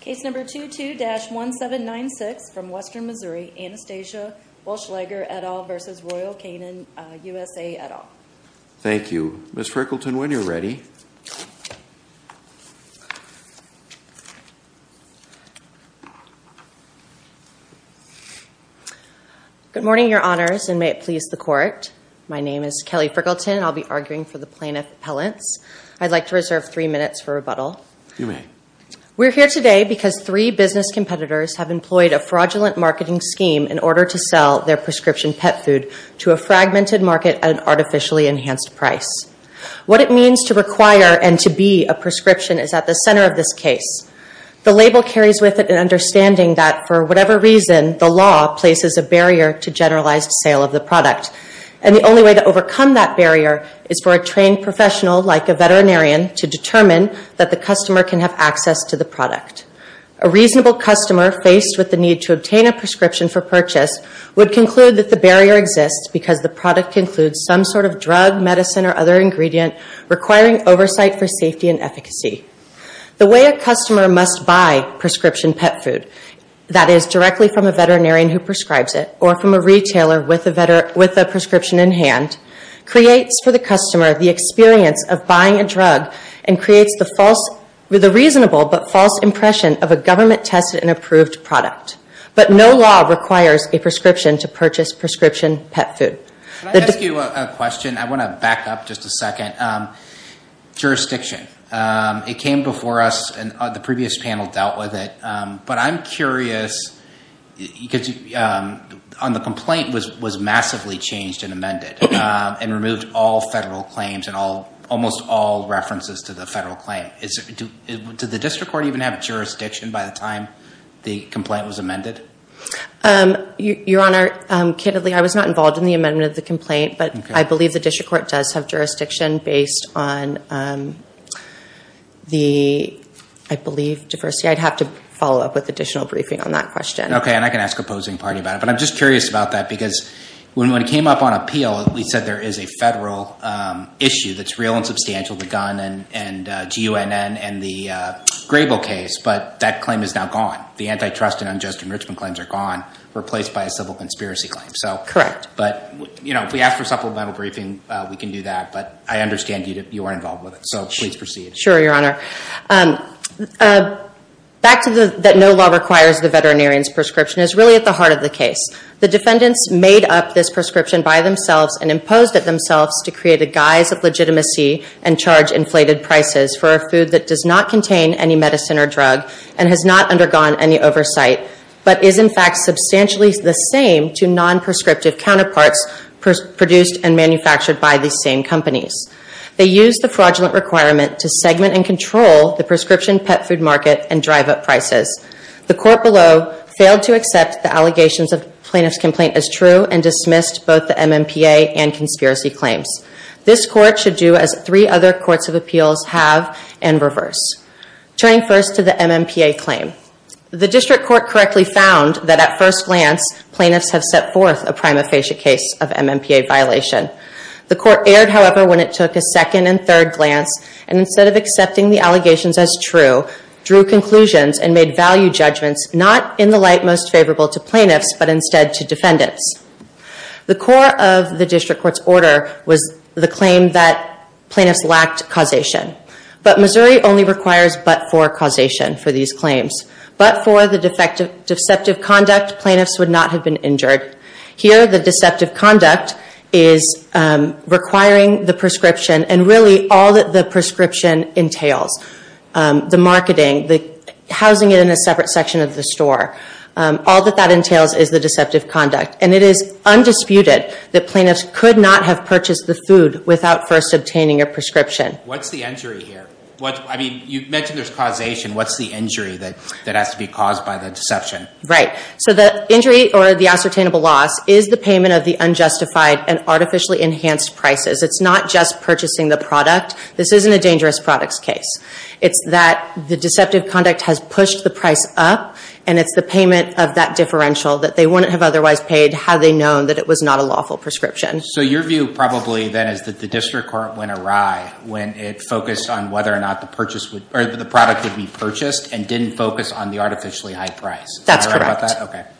Case number 22-1796 from Western Missouri, Anastasia Wullschleger et al. v. Royal Canin U.S.A. et al. Thank you. Ms. Frickleton, when you're ready. Good morning, Your Honors, and may it please the Court. My name is Kelly Frickleton, and I'll be arguing for the plaintiff's appellants. I'd like to reserve three minutes for rebuttal. You may. We're here today because three business competitors have employed a fraudulent marketing scheme in order to sell their prescription pet food to a fragmented market at an artificially enhanced price. What it means to require and to be a prescription is at the center of this case. The label carries with it an understanding that, for whatever reason, the law places a barrier to generalized sale of the product. And the only way to overcome that barrier is for a trained professional, like a veterinarian, to determine that the customer can have access to the product. A reasonable customer, faced with the need to obtain a prescription for purchase, would conclude that the barrier exists because the product includes some sort of drug, medicine, or other ingredient requiring oversight for safety and efficacy. The way a customer must buy prescription pet food, that is, directly from a veterinarian who prescribes it or from a retailer with a prescription in hand, creates for the customer the experience of buying a drug and creates the reasonable but false impression of a government-tested and approved product. But no law requires a prescription to purchase prescription pet food. Can I ask you a question? I want to back up just a second. Jurisdiction. It came before us, and the previous panel dealt with it. But I'm curious, because the complaint was massively changed and amended and removed all federal claims and almost all references to the federal claim. Did the district court even have jurisdiction by the time the complaint was amended? Your Honor, candidly, I was not involved in the amendment of the complaint, but I believe the district court does have jurisdiction based on the, I believe, diversity. I'd have to follow up with additional briefing on that question. Okay, and I can ask opposing party about it. And I'm just curious about that, because when it came up on appeal, we said there is a federal issue that's real and substantial, the Gunn and GUNN and the Grable case, but that claim is now gone. The antitrust and unjust enrichment claims are gone, replaced by a civil conspiracy claim. Correct. But, you know, if we ask for supplemental briefing, we can do that. But I understand you weren't involved with it, so please proceed. Sure, Your Honor. Back to that no law requires the veterinarian's prescription is really at the heart of the case. The defendants made up this prescription by themselves and imposed it themselves to create a guise of legitimacy and charge inflated prices for a food that does not contain any medicine or drug and has not undergone any oversight, but is, in fact, substantially the same to non-prescriptive counterparts produced and manufactured by these same companies. They use the fraudulent requirement to segment and control the prescription pet food market and drive up prices. The court below failed to accept the allegations of plaintiff's complaint as true and dismissed both the MMPA and conspiracy claims. This court should do as three other courts of appeals have and reverse. Turning first to the MMPA claim. The district court correctly found that at first glance, plaintiffs have set forth a prima facie case of MMPA violation. The court erred, however, when it took a second and third glance and instead of accepting the allegations as true, drew conclusions and made value judgments not in the light most favorable to plaintiffs, but instead to defendants. The core of the district court's order was the claim that plaintiffs lacked causation. But Missouri only requires but-for causation for these claims. But for the deceptive conduct, plaintiffs would not have been injured. Here, the deceptive conduct is requiring the prescription and really all that the prescription entails. The marketing, the housing it in a separate section of the store, all that that entails is the deceptive conduct. And it is undisputed that plaintiffs could not have purchased the food without first obtaining a prescription. What's the injury here? I mean, you mentioned there's causation. What's the injury that has to be caused by the deception? Right. So the injury or the ascertainable loss is the payment of the unjustified and artificially enhanced prices. It's not just purchasing the product. This isn't a dangerous products case. It's that the deceptive conduct has pushed the price up. And it's the payment of that differential that they wouldn't have otherwise paid had they known that it was not a lawful prescription. So your view probably then is that the district court went awry when it focused on whether or not the product would be purchased and didn't focus on the artificially high price. That's correct.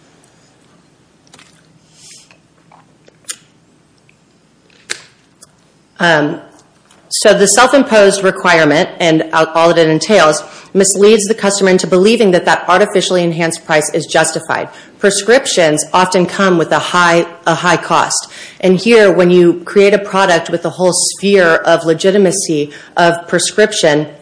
So the self-imposed requirement and all that it entails misleads the customer into believing that that artificially enhanced price is justified. Prescriptions often come with a high cost. And here, when you create a product with a whole sphere of legitimacy of prescription,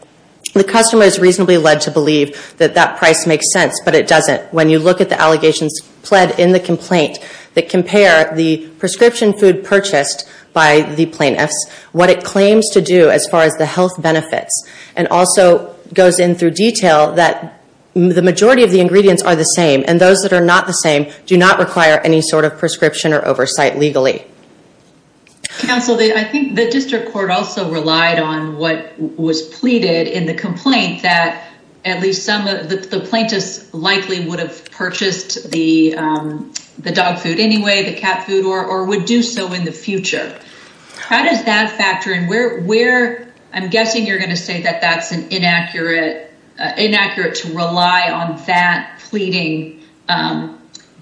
the customer is reasonably led to believe that that price makes sense, but it doesn't. When you look at the allegations pled in the complaint that compare the prescription food purchased by the plaintiffs, what it claims to do as far as the health benefits, and also goes in through detail that the majority of the ingredients are the same, and those that are not the same do not require any sort of prescription or oversight legally. Counsel, I think the district court also relied on what was pleaded in the complaint that at least some of the plaintiffs likely would have purchased the dog food anyway, the cat food, or would do so in the future. How does that factor in? I'm guessing you're going to say that that's inaccurate to rely on that pleading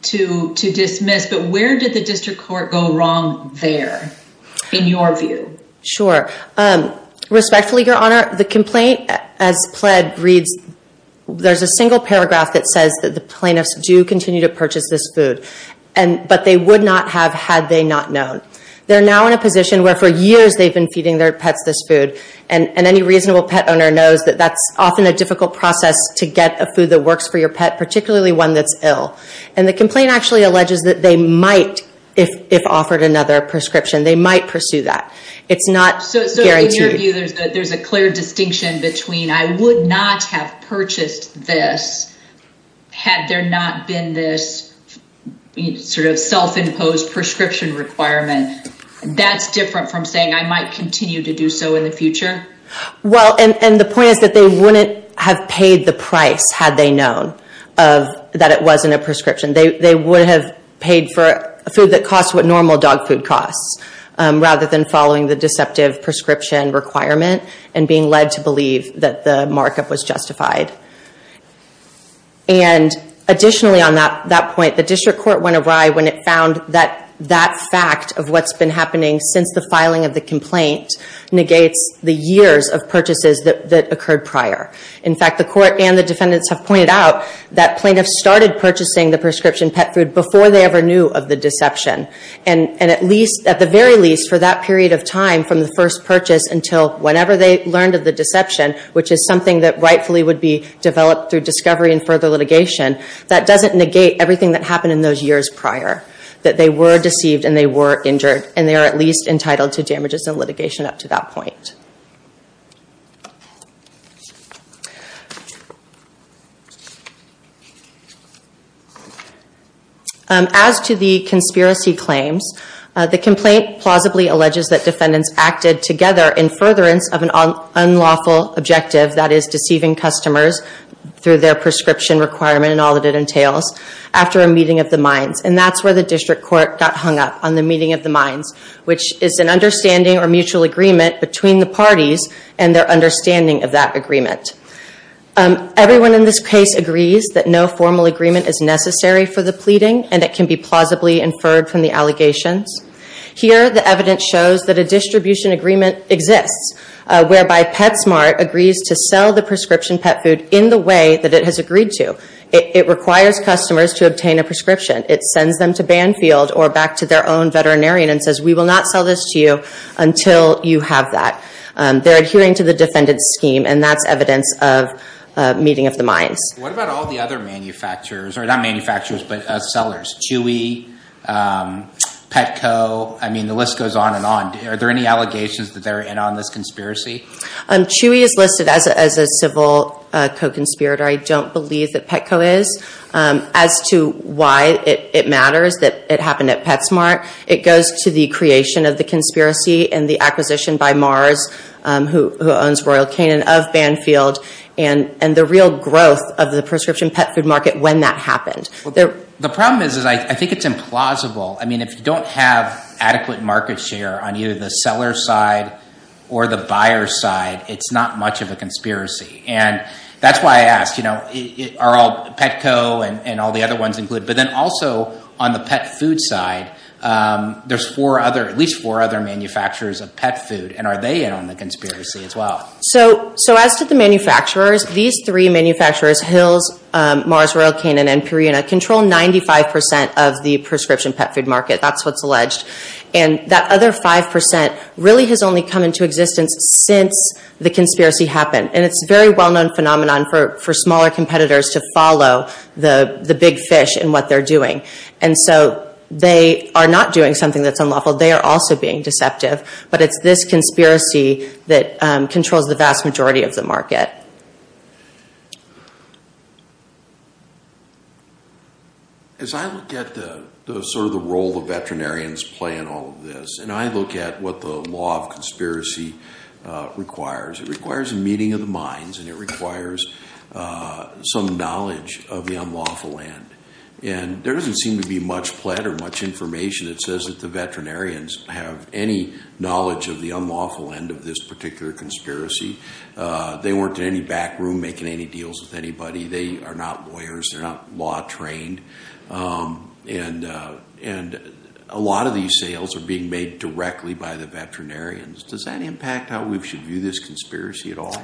to dismiss, but where did the district court go wrong there in your view? Sure. Respectfully, Your Honor, the complaint as pled reads, there's a single paragraph that says that the plaintiffs do continue to purchase this food, but they would not have had they not known. They're now in a position where for years they've been feeding their pets this food, and any reasonable pet owner knows that that's often a difficult process to get a food that works for your pet, particularly one that's ill. The complaint actually alleges that they might, if offered another prescription, they might pursue that. It's not guaranteed. In your view, there's a clear distinction between I would not have purchased this had there not been this sort of self-imposed prescription requirement. That's different from saying I might continue to do so in the future? Well, and the point is that they wouldn't have paid the price had they known that it wasn't a prescription. They would have paid for a food that costs what normal dog food costs, rather than following the deceptive prescription requirement and being led to believe that the markup was justified. And additionally on that point, the district court went awry when it found that that fact of what's been happening since the filing of the complaint negates the years of purchases that occurred prior. In fact, the court and the defendants have pointed out that plaintiffs started purchasing the prescription pet food before they ever knew of the deception. And at least, at the very least, for that period of time from the first purchase until whenever they learned of the deception, which is something that rightfully would be developed through discovery and further litigation, that doesn't negate everything that happened in those years prior. That they were deceived and they were injured, and they are at least entitled to damages and litigation up to that point. As to the conspiracy claims, the complaint plausibly alleges that defendants acted together in furtherance of an unlawful objective, that is deceiving customers through their prescription requirement and all that it entails, after a meeting of the minds. And that's where the district court got hung up on the meeting of the minds, which is an understanding or mutual agreement between the parties and their understanding of that agreement. Everyone in this case agrees that no formal agreement is necessary for the pleading and it can be plausibly inferred from the allegations. Here, the evidence shows that a distribution agreement exists, whereby PetSmart agrees to sell the prescription pet food in the way that it has agreed to. It requires customers to obtain a prescription. It sends them to Banfield or back to their own veterinarian and says, we will not sell this to you until you have that. They're adhering to the defendant's scheme and that's evidence of meeting of the minds. What about all the other manufacturers, or not manufacturers, but sellers? Chewy, Petco, I mean the list goes on and on. Are there any allegations that they're in on this conspiracy? Chewy is listed as a civil co-conspirator. I don't believe that Petco is. As to why it matters that it happened at PetSmart, it goes to the creation of the conspiracy and the acquisition by Mars, who owns Royal Canin, of Banfield, and the real growth of the prescription pet food market when that happened. The problem is, I think it's implausible. I mean, if you don't have adequate market share on either the seller's side or the buyer's side, it's not much of a conspiracy. And that's why I ask, are all Petco and all the other ones included? But then also, on the pet food side, there's at least four other manufacturers of pet food. And are they in on the conspiracy as well? So as to the manufacturers, these three manufacturers, Hills, Mars, Royal Canin, and Purina, control 95% of the prescription pet food market. That's what's alleged. And that other 5% really has only come into existence since the conspiracy happened. And it's a very well-known phenomenon for smaller competitors to follow the big fish in what they're doing. And so they are not doing something that's unlawful. They are also being deceptive. But it's this conspiracy that controls the vast majority of the market. As I look at sort of the role the veterinarians play in all of this, and I look at what the law of conspiracy requires, it requires a meeting of the minds, and it requires some knowledge of the unlawful end. And there doesn't seem to be much pled or much information that says that the veterinarians have any knowledge of the unlawful end of this particular conspiracy. They weren't in any back room making any deals with anybody. They are not lawyers. They're not law trained. And a lot of these sales are being made directly by the veterinarians. Does that impact how we should view this conspiracy at all?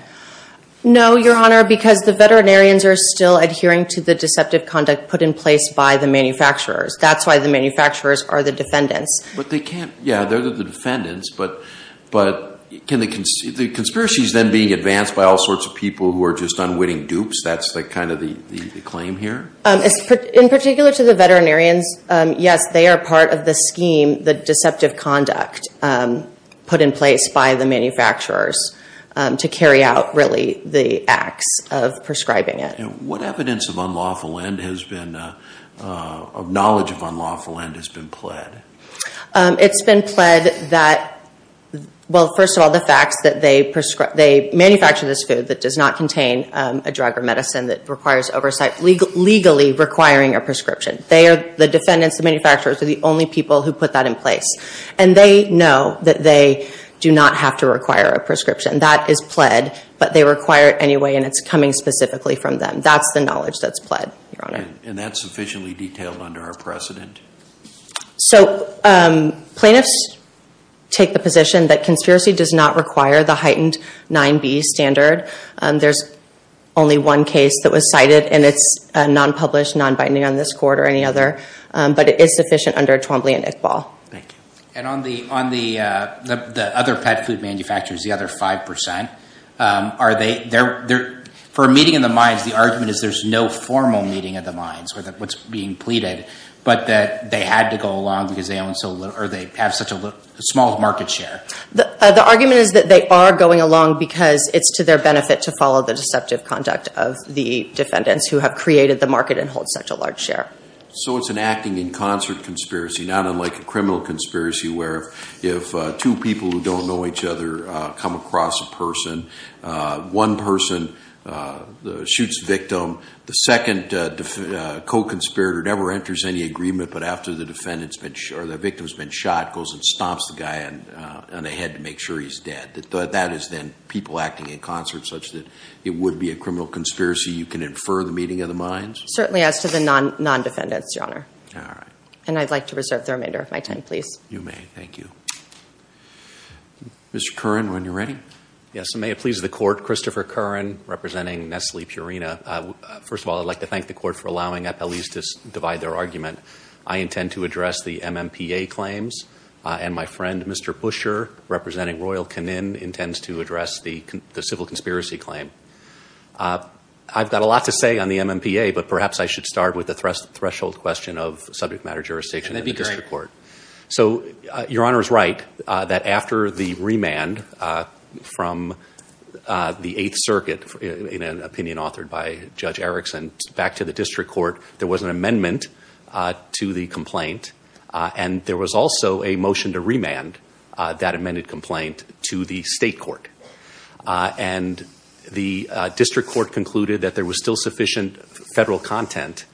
No, Your Honor, because the veterinarians are still adhering to the deceptive conduct put in place by the manufacturers. That's why the manufacturers are the defendants. But they can't – yeah, they're the defendants. But can they – the conspiracy is then being advanced by all sorts of people who are just unwitting dupes. That's kind of the claim here? In particular to the veterinarians, yes, they are part of the scheme, the deceptive conduct, put in place by the manufacturers to carry out, really, the acts of prescribing it. And what evidence of unlawful end has been – of knowledge of unlawful end has been pled? It's been pled that – well, first of all, the facts that they manufacture this food that does not contain a drug or medicine that requires oversight, legally requiring a prescription. The defendants, the manufacturers, are the only people who put that in place. And they know that they do not have to require a prescription. That is pled, but they require it anyway, and it's coming specifically from them. That's the knowledge that's pled, Your Honor. And that's sufficiently detailed under our precedent? So plaintiffs take the position that conspiracy does not require the heightened 9b standard. There's only one case that was cited, and it's non-published, non-binding on this court or any other. But it is sufficient under Twombly and Iqbal. Thank you. And on the other pet food manufacturers, the other 5%, are they – for a meeting of the minds, the argument is there's no formal meeting of the minds with what's being pleaded, but that they had to go along because they own so – or they have such a small market share. The argument is that they are going along because it's to their benefit to follow the deceptive conduct of the defendants who have created the market and hold such a large share. So it's an acting in concert conspiracy, not unlike a criminal conspiracy, where if two people who don't know each other come across a person, one person shoots the victim, the second co-conspirator never enters any agreement, but after the victim's been shot, goes and stomps the guy on the head to make sure he's dead. That is then people acting in concert such that it would be a criminal conspiracy. You can infer the meeting of the minds? Certainly as to the non-defendants, Your Honor. All right. And I'd like to reserve the remainder of my time, please. You may. Thank you. Mr. Curran, when you're ready. Yes, and may it please the Court, Christopher Curran, representing Nestle Purina. First of all, I'd like to thank the Court for allowing at least to divide their argument. I intend to address the MMPA claims, and my friend, Mr. Pusher, representing Royal Canin, intends to address the civil conspiracy claim. I've got a lot to say on the MMPA, but perhaps I should start with the threshold question of subject matter jurisdiction in the district court. That'd be great. So Your Honor is right that after the remand from the Eighth Circuit, in an opinion authored by Judge Erickson, back to the district court, there was an amendment to the complaint, and there was also a motion to remand that amended complaint to the state court. And the district court concluded that there was still sufficient federal content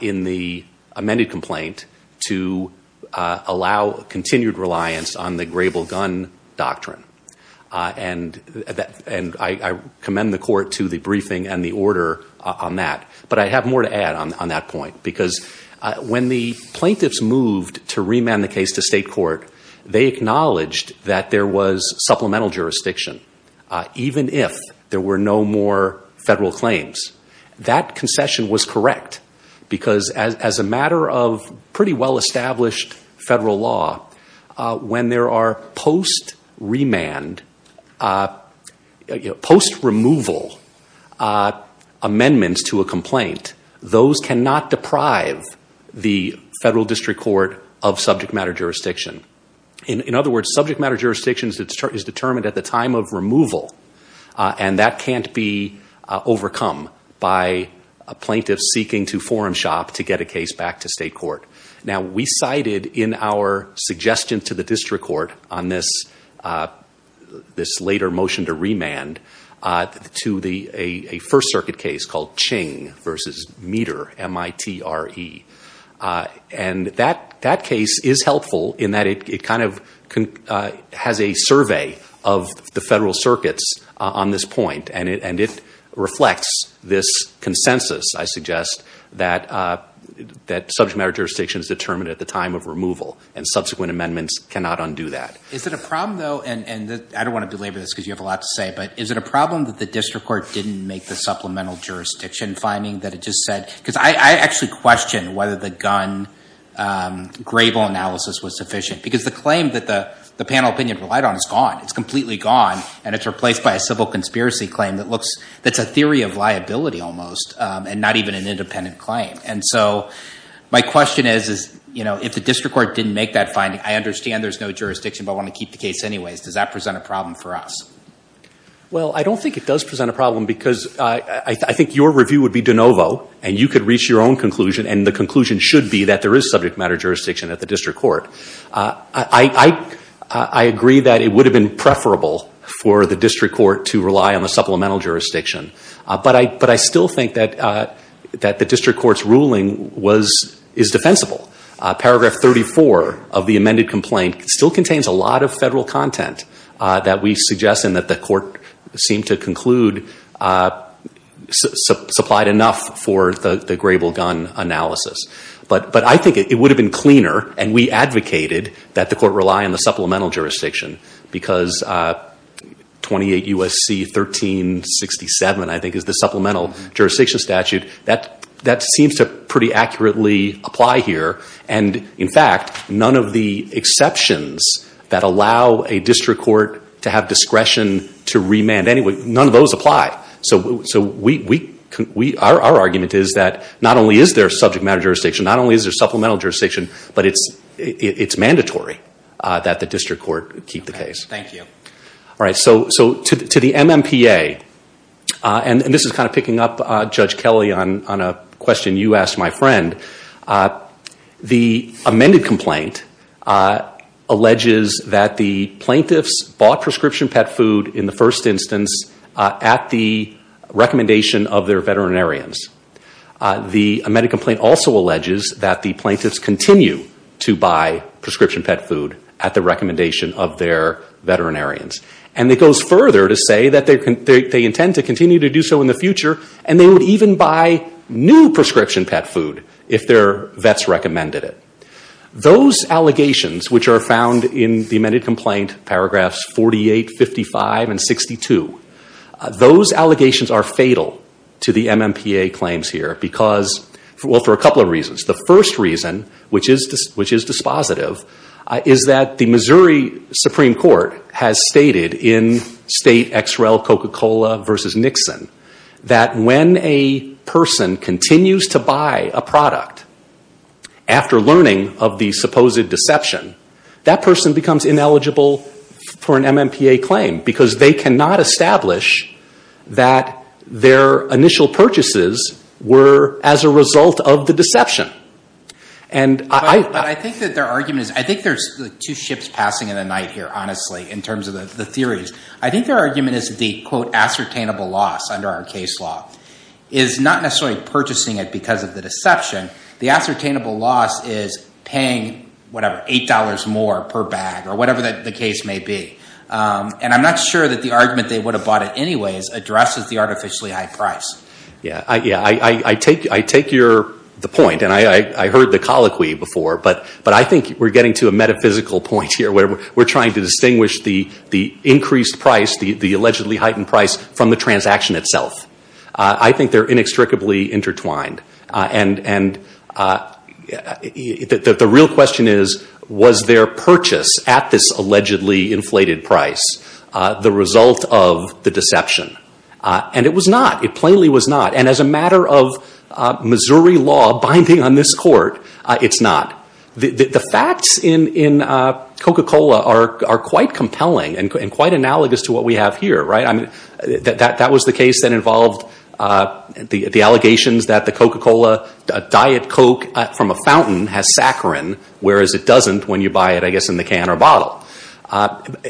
in the amended complaint to allow continued reliance on the grable gun doctrine. And I commend the Court to the briefing and the order on that. But I have more to add on that point, because when the plaintiffs moved to remand the case to state court, they acknowledged that there was supplemental jurisdiction, even if there were no more federal claims. That concession was correct, because as a matter of pretty well-established federal law, when there are post-removal amendments to a complaint, those cannot deprive the federal district court of subject matter jurisdiction. In other words, subject matter jurisdiction is determined at the time of removal, and that can't be overcome by a plaintiff seeking to forum shop to get a case back to state court. Now, we cited in our suggestion to the district court on this later motion to remand, to a First Circuit case called Ching v. Meter, M-I-T-R-E. And that case is helpful in that it kind of has a survey of the federal circuits on this point, and it reflects this consensus, I suggest, that subject matter jurisdiction is determined at the time of removal, and subsequent amendments cannot undo that. Is it a problem, though, and I don't want to belabor this because you have a lot to say, but is it a problem that the district court didn't make the supplemental jurisdiction finding that it just said? Because I actually question whether the gun gravel analysis was sufficient, because the claim that the panel opinion relied on is gone. It's completely gone, and it's replaced by a civil conspiracy claim that's a theory of liability almost, and not even an independent claim. And so my question is, if the district court didn't make that finding, I understand there's no jurisdiction, but I want to keep the case anyways. Does that present a problem for us? Well, I don't think it does present a problem because I think your review would be de novo, and you could reach your own conclusion, and the conclusion should be that there is subject matter jurisdiction at the district court. I agree that it would have been preferable for the district court to rely on the supplemental jurisdiction, but I still think that the district court's ruling is defensible. Paragraph 34 of the amended complaint still contains a lot of federal content that we suggest and that the court seemed to conclude supplied enough for the gravel gun analysis. But I think it would have been cleaner, and we advocated that the court rely on the supplemental jurisdiction, because 28 U.S.C. 1367, I think, is the supplemental jurisdiction statute. That seems to pretty accurately apply here. And, in fact, none of the exceptions that allow a district court to have discretion to remand, none of those apply. So our argument is that not only is there subject matter jurisdiction, not only is there supplemental jurisdiction, but it's mandatory that the district court keep the case. Thank you. All right. So to the MMPA, and this is kind of picking up Judge Kelly on a question you asked my friend, the amended complaint alleges that the plaintiffs bought prescription pet food in the first instance at the recommendation of their veterinarians. The amended complaint also alleges that the plaintiffs continue to buy prescription pet food at the recommendation of their veterinarians. And it goes further to say that they intend to continue to do so in the future, and they would even buy new prescription pet food if their vets recommended it. Those allegations, which are found in the amended complaint, paragraphs 48, 55, and 62, those allegations are fatal to the MMPA claims here because, well, for a couple of reasons. The first reason, which is dispositive, is that the Missouri Supreme Court has stated in state XREL Coca-Cola versus Nixon that when a person continues to buy a product after learning of the supposed deception, that person becomes ineligible for an MMPA claim because they cannot establish that their initial purchases were as a result of the deception. But I think that their argument is, I think there's two ships passing in the night here, honestly, in terms of the theories. I think their argument is the, quote, ascertainable loss under our case law is not necessarily purchasing it because of the deception. The ascertainable loss is paying, whatever, $8 more per bag or whatever the case may be. And I'm not sure that the argument they would have bought it anyway addresses the artificially high price. Yeah, I take your point, and I heard the colloquy before, but I think we're getting to a metaphysical point here where we're trying to distinguish the increased price, the allegedly heightened price, from the transaction itself. I think they're inextricably intertwined. And the real question is, was their purchase at this allegedly inflated price the result of the deception? And it was not. It plainly was not. And as a matter of Missouri law binding on this court, it's not. The facts in Coca-Cola are quite compelling and quite analogous to what we have here, right? That was the case that involved the allegations that the Coca-Cola Diet Coke from a fountain has saccharin, whereas it doesn't when you buy it, I guess, in the can or bottle.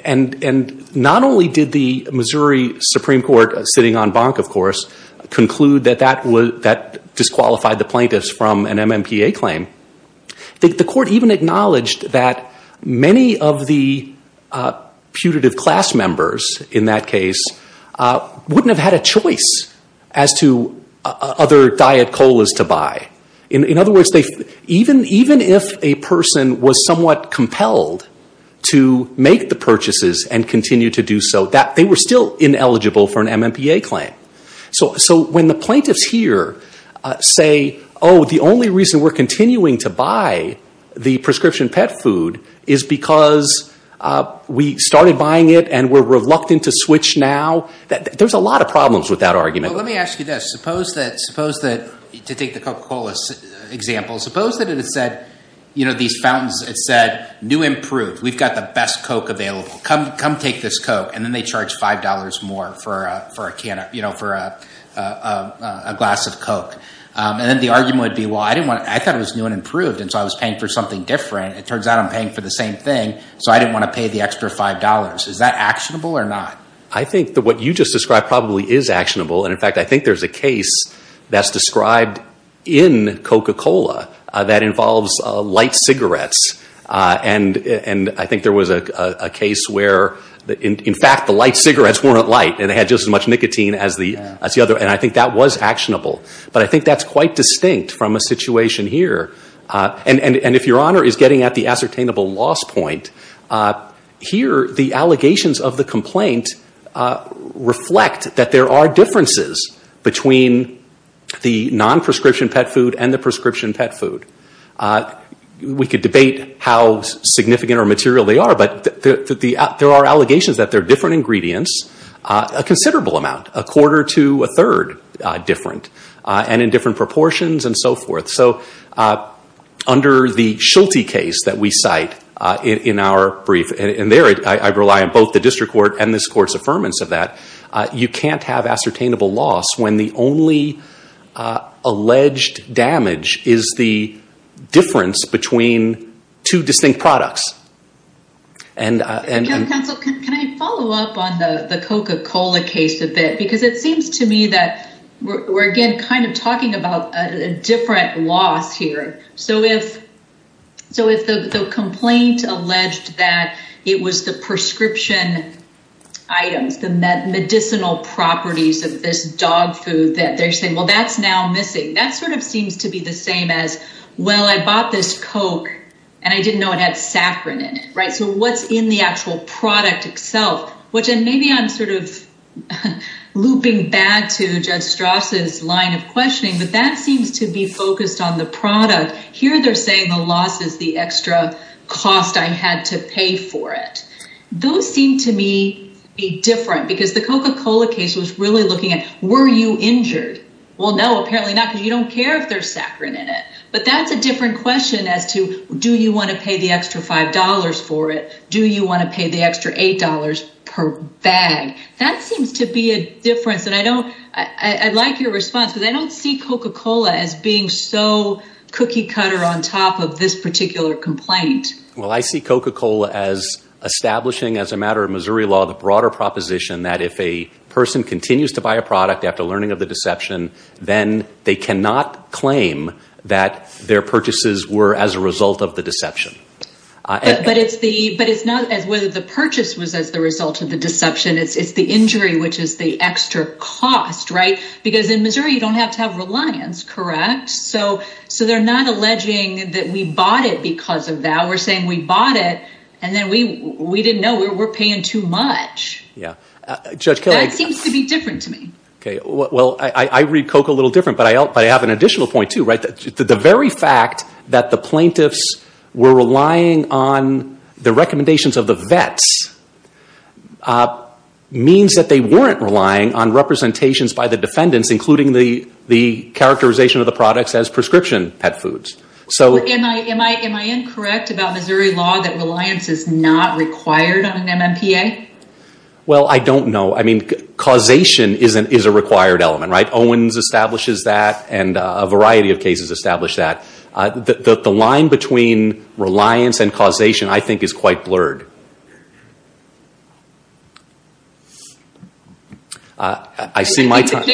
And not only did the Missouri Supreme Court, sitting on Bonk, of course, conclude that that disqualified the plaintiffs from an MMPA claim, the court even acknowledged that many of the putative class members, in that case, wouldn't have had a choice as to other Diet Colas to buy. In other words, even if a person was somewhat compelled to make the purchases and continue to do so, they were still ineligible for an MMPA claim. So when the plaintiffs here say, oh, the only reason we're continuing to buy the prescription pet food is because we started buying it and we're reluctant to switch now, there's a lot of problems with that argument. Let me ask you this. Suppose that, to take the Coca-Cola example, suppose that it said, you know, these fountains, it said, new improved. We've got the best Coke available. Come take this Coke. And then they charge $5 more for a glass of Coke. And then the argument would be, well, I thought it was new and improved, and so I was paying for something different. It turns out I'm paying for the same thing, so I didn't want to pay the extra $5. Is that actionable or not? I think that what you just described probably is actionable. And, in fact, I think there's a case that's described in Coca-Cola that involves light cigarettes. And I think there was a case where, in fact, the light cigarettes weren't light and they had just as much nicotine as the other, and I think that was actionable. But I think that's quite distinct from a situation here. And if Your Honor is getting at the ascertainable loss point, here the allegations of the complaint reflect that there are differences between the non-prescription pet food and the prescription pet food. We could debate how significant or material they are, but there are allegations that there are different ingredients, a considerable amount, a quarter to a third different, and in different proportions and so forth. So under the Schulte case that we cite in our brief, and there I rely on both the District Court and this Court's affirmance of that, you can't have ascertainable loss when the only alleged damage is the difference between two distinct products. Counsel, can I follow up on the Coca-Cola case a bit? Because it seems to me that we're again kind of talking about a different loss here. So if the complaint alleged that it was the prescription items, the medicinal properties of this dog food, that they're saying, well, that's now missing. That sort of seems to be the same as, well, I bought this Coke, and I didn't know it had saccharin in it, right? So what's in the actual product itself? And maybe I'm sort of looping back to Judge Strasse's line of questioning, but that seems to be focused on the product. Here they're saying the loss is the extra cost I had to pay for it. Those seem to me to be different, because the Coca-Cola case was really looking at, were you injured? Well, no, apparently not, because you don't care if there's saccharin in it. But that's a different question as to, do you want to pay the extra $5 for it? Do you want to pay the extra $8 per bag? That seems to be a difference, and I'd like your response, because I don't see Coca-Cola as being so cookie cutter on top of this particular complaint. Well, I see Coca-Cola as establishing, as a matter of Missouri law, the broader proposition that if a person continues to buy a product after learning of the deception, then they cannot claim that their purchases were as a result of the deception. But it's not as whether the purchase was as the result of the deception. It's the injury, which is the extra cost, right? Because in Missouri, you don't have to have reliance, correct? So they're not alleging that we bought it because of that. We're saying we bought it, and then we didn't know we were paying too much. That seems to be different to me. Well, I read Coke a little different, but I have an additional point, too. The very fact that the plaintiffs were relying on the recommendations of the vets means that they weren't relying on representations by the defendants, including the characterization of the products as prescription pet foods. Am I incorrect about Missouri law that reliance is not required on an MMPA? Well, I don't know. I mean, causation is a required element, right? Owens establishes that, and a variety of cases establish that. The line between reliance and causation, I think, is quite blurred. I see my time. I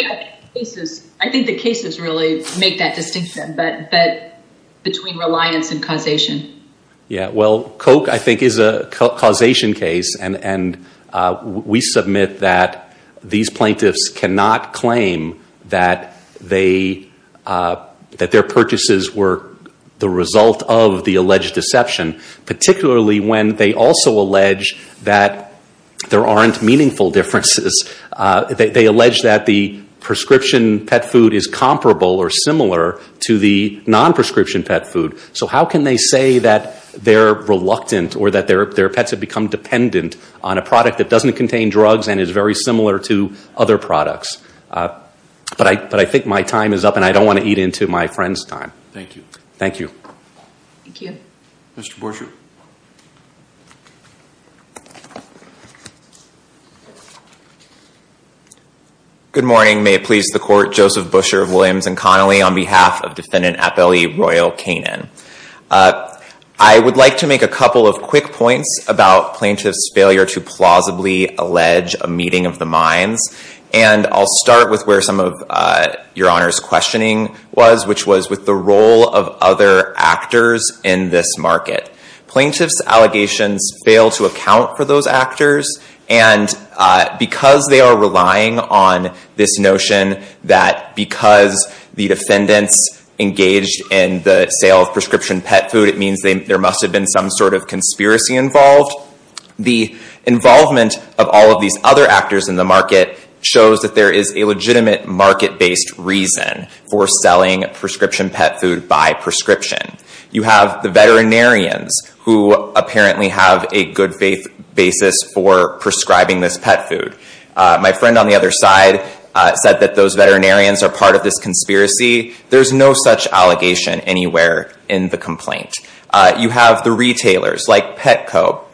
think the cases really make that distinction between reliance and causation. Yeah, well, Coke, I think, is a causation case, and we submit that these plaintiffs cannot claim that their purchases were the result of the alleged deception, particularly when they also allege that there aren't meaningful differences. They allege that the prescription pet food is comparable or similar to the non-prescription pet food. So how can they say that they're reluctant or that their pets have become dependent on a product that doesn't contain drugs and is very similar to other products? But I think my time is up, and I don't want to eat into my friend's time. Thank you. Thank you. Thank you. Mr. Boucher. Good morning. May it please the Court. Joseph Boucher of Williams and Connolly on behalf of Defendant Appellee Royal Canin. I would like to make a couple of quick points about plaintiffs' failure to plausibly allege a meeting of the minds, and I'll start with where some of Your Honor's questioning was, which was with the role of other actors in this market. Plaintiffs' allegations fail to account for those actors, and because they are relying on this notion that because the defendants engaged in the sale of prescription pet food, it means there must have been some sort of conspiracy involved, the involvement of all of these other actors in the market shows that there is a legitimate market-based reason for selling prescription pet food by prescription. You have the veterinarians who apparently have a good faith basis for prescribing this pet food. My friend on the other side said that those veterinarians are part of this conspiracy. There's no such allegation anywhere in the complaint. You have the retailers like Petco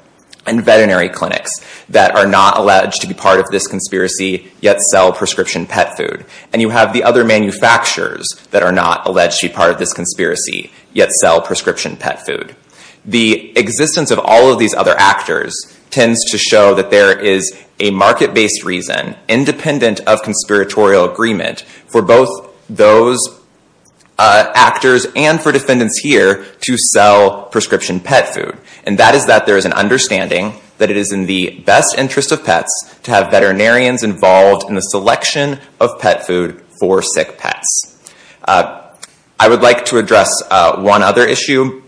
and veterinary clinics that are not alleged to be part of this conspiracy, yet sell prescription pet food, and you have the other manufacturers that are not alleged to be part of this conspiracy, yet sell prescription pet food. The existence of all of these other actors tends to show that there is a market-based reason, independent of conspiratorial agreement, for both those actors and for defendants here to sell prescription pet food, and that is that there is an understanding that it is in the best interest of pets to have veterinarians involved in the selection of pet food for sick pets. I would like to address one other issue,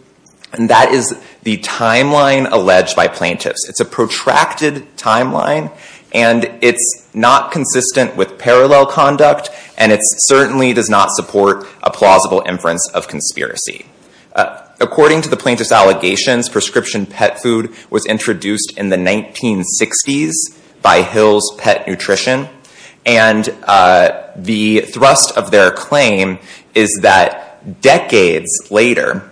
and that is the timeline alleged by plaintiffs. It's a protracted timeline, and it's not consistent with parallel conduct, and it certainly does not support a plausible inference of conspiracy. According to the plaintiffs' allegations, prescription pet food was introduced in the 1960s by Hill's Pet Nutrition, and the thrust of their claim is that decades later,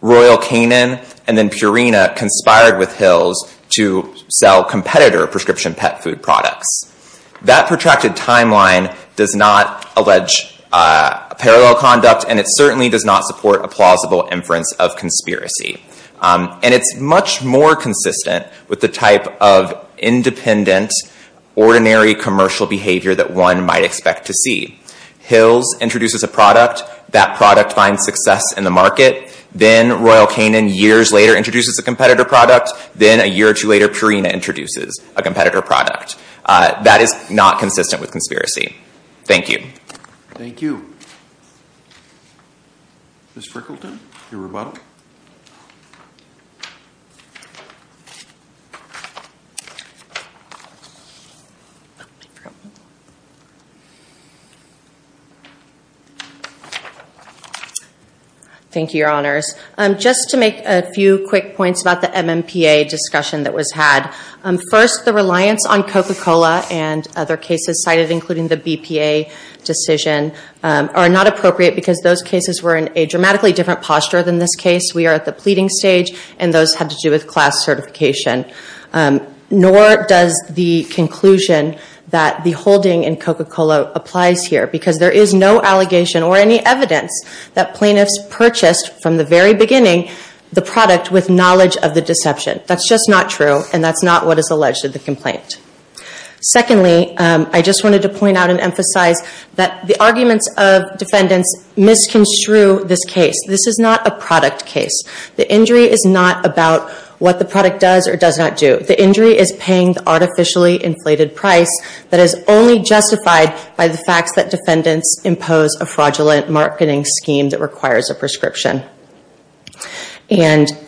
Royal Canin and then Purina conspired with Hill's to sell competitor prescription pet food products. That protracted timeline does not allege parallel conduct, and it certainly does not support a plausible inference of conspiracy. And it's much more consistent with the type of independent, ordinary commercial behavior that one might expect to see. Hill's introduces a product. That product finds success in the market. Then Royal Canin years later introduces a competitor product. Then a year or two later, Purina introduces a competitor product. That is not consistent with conspiracy. Thank you. Thank you. Ms. Frickleton, your rebuttal. Thank you, Your Honors. Just to make a few quick points about the MMPA discussion that was had. First, the reliance on Coca-Cola and other cases cited, including the BPA decision, are not appropriate because those cases were in a dramatically different posture than this case. We are at the pleading stage, and those had to do with class certification. Nor does the conclusion that the holding in Coca-Cola applies here, because there is no allegation or any evidence that plaintiffs purchased, from the very beginning, the product with knowledge of the deception. That's just not true, and that's not what is alleged in the complaint. Secondly, I just wanted to point out and emphasize that the arguments of defendants misconstrue this case. This is not a product case. The injury is not about what the product does or does not do. The injury is paying the artificially inflated price that is only justified by the facts that defendants impose a fraudulent marketing scheme that requires a prescription.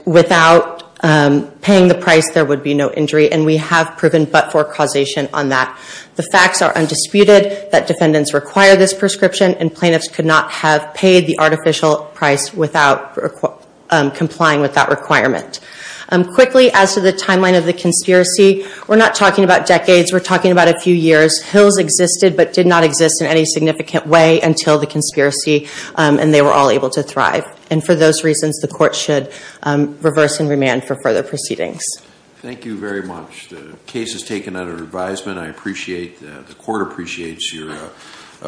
Without paying the price, there would be no injury, and we have proven but-for causation on that. The facts are undisputed that defendants require this prescription, and plaintiffs could not have paid the artificial price without complying with that requirement. Quickly, as to the timeline of the conspiracy, we're not talking about decades. We're talking about a few years. Hills existed but did not exist in any significant way until the conspiracy, and they were all able to thrive. And for those reasons, the court should reverse and remand for further proceedings. Thank you very much. The case is taken under advisement. I appreciate that. The court appreciates your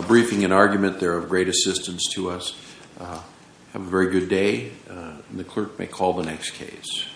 briefing and argument. They're of great assistance to us. Have a very good day, and the clerk may call the next case.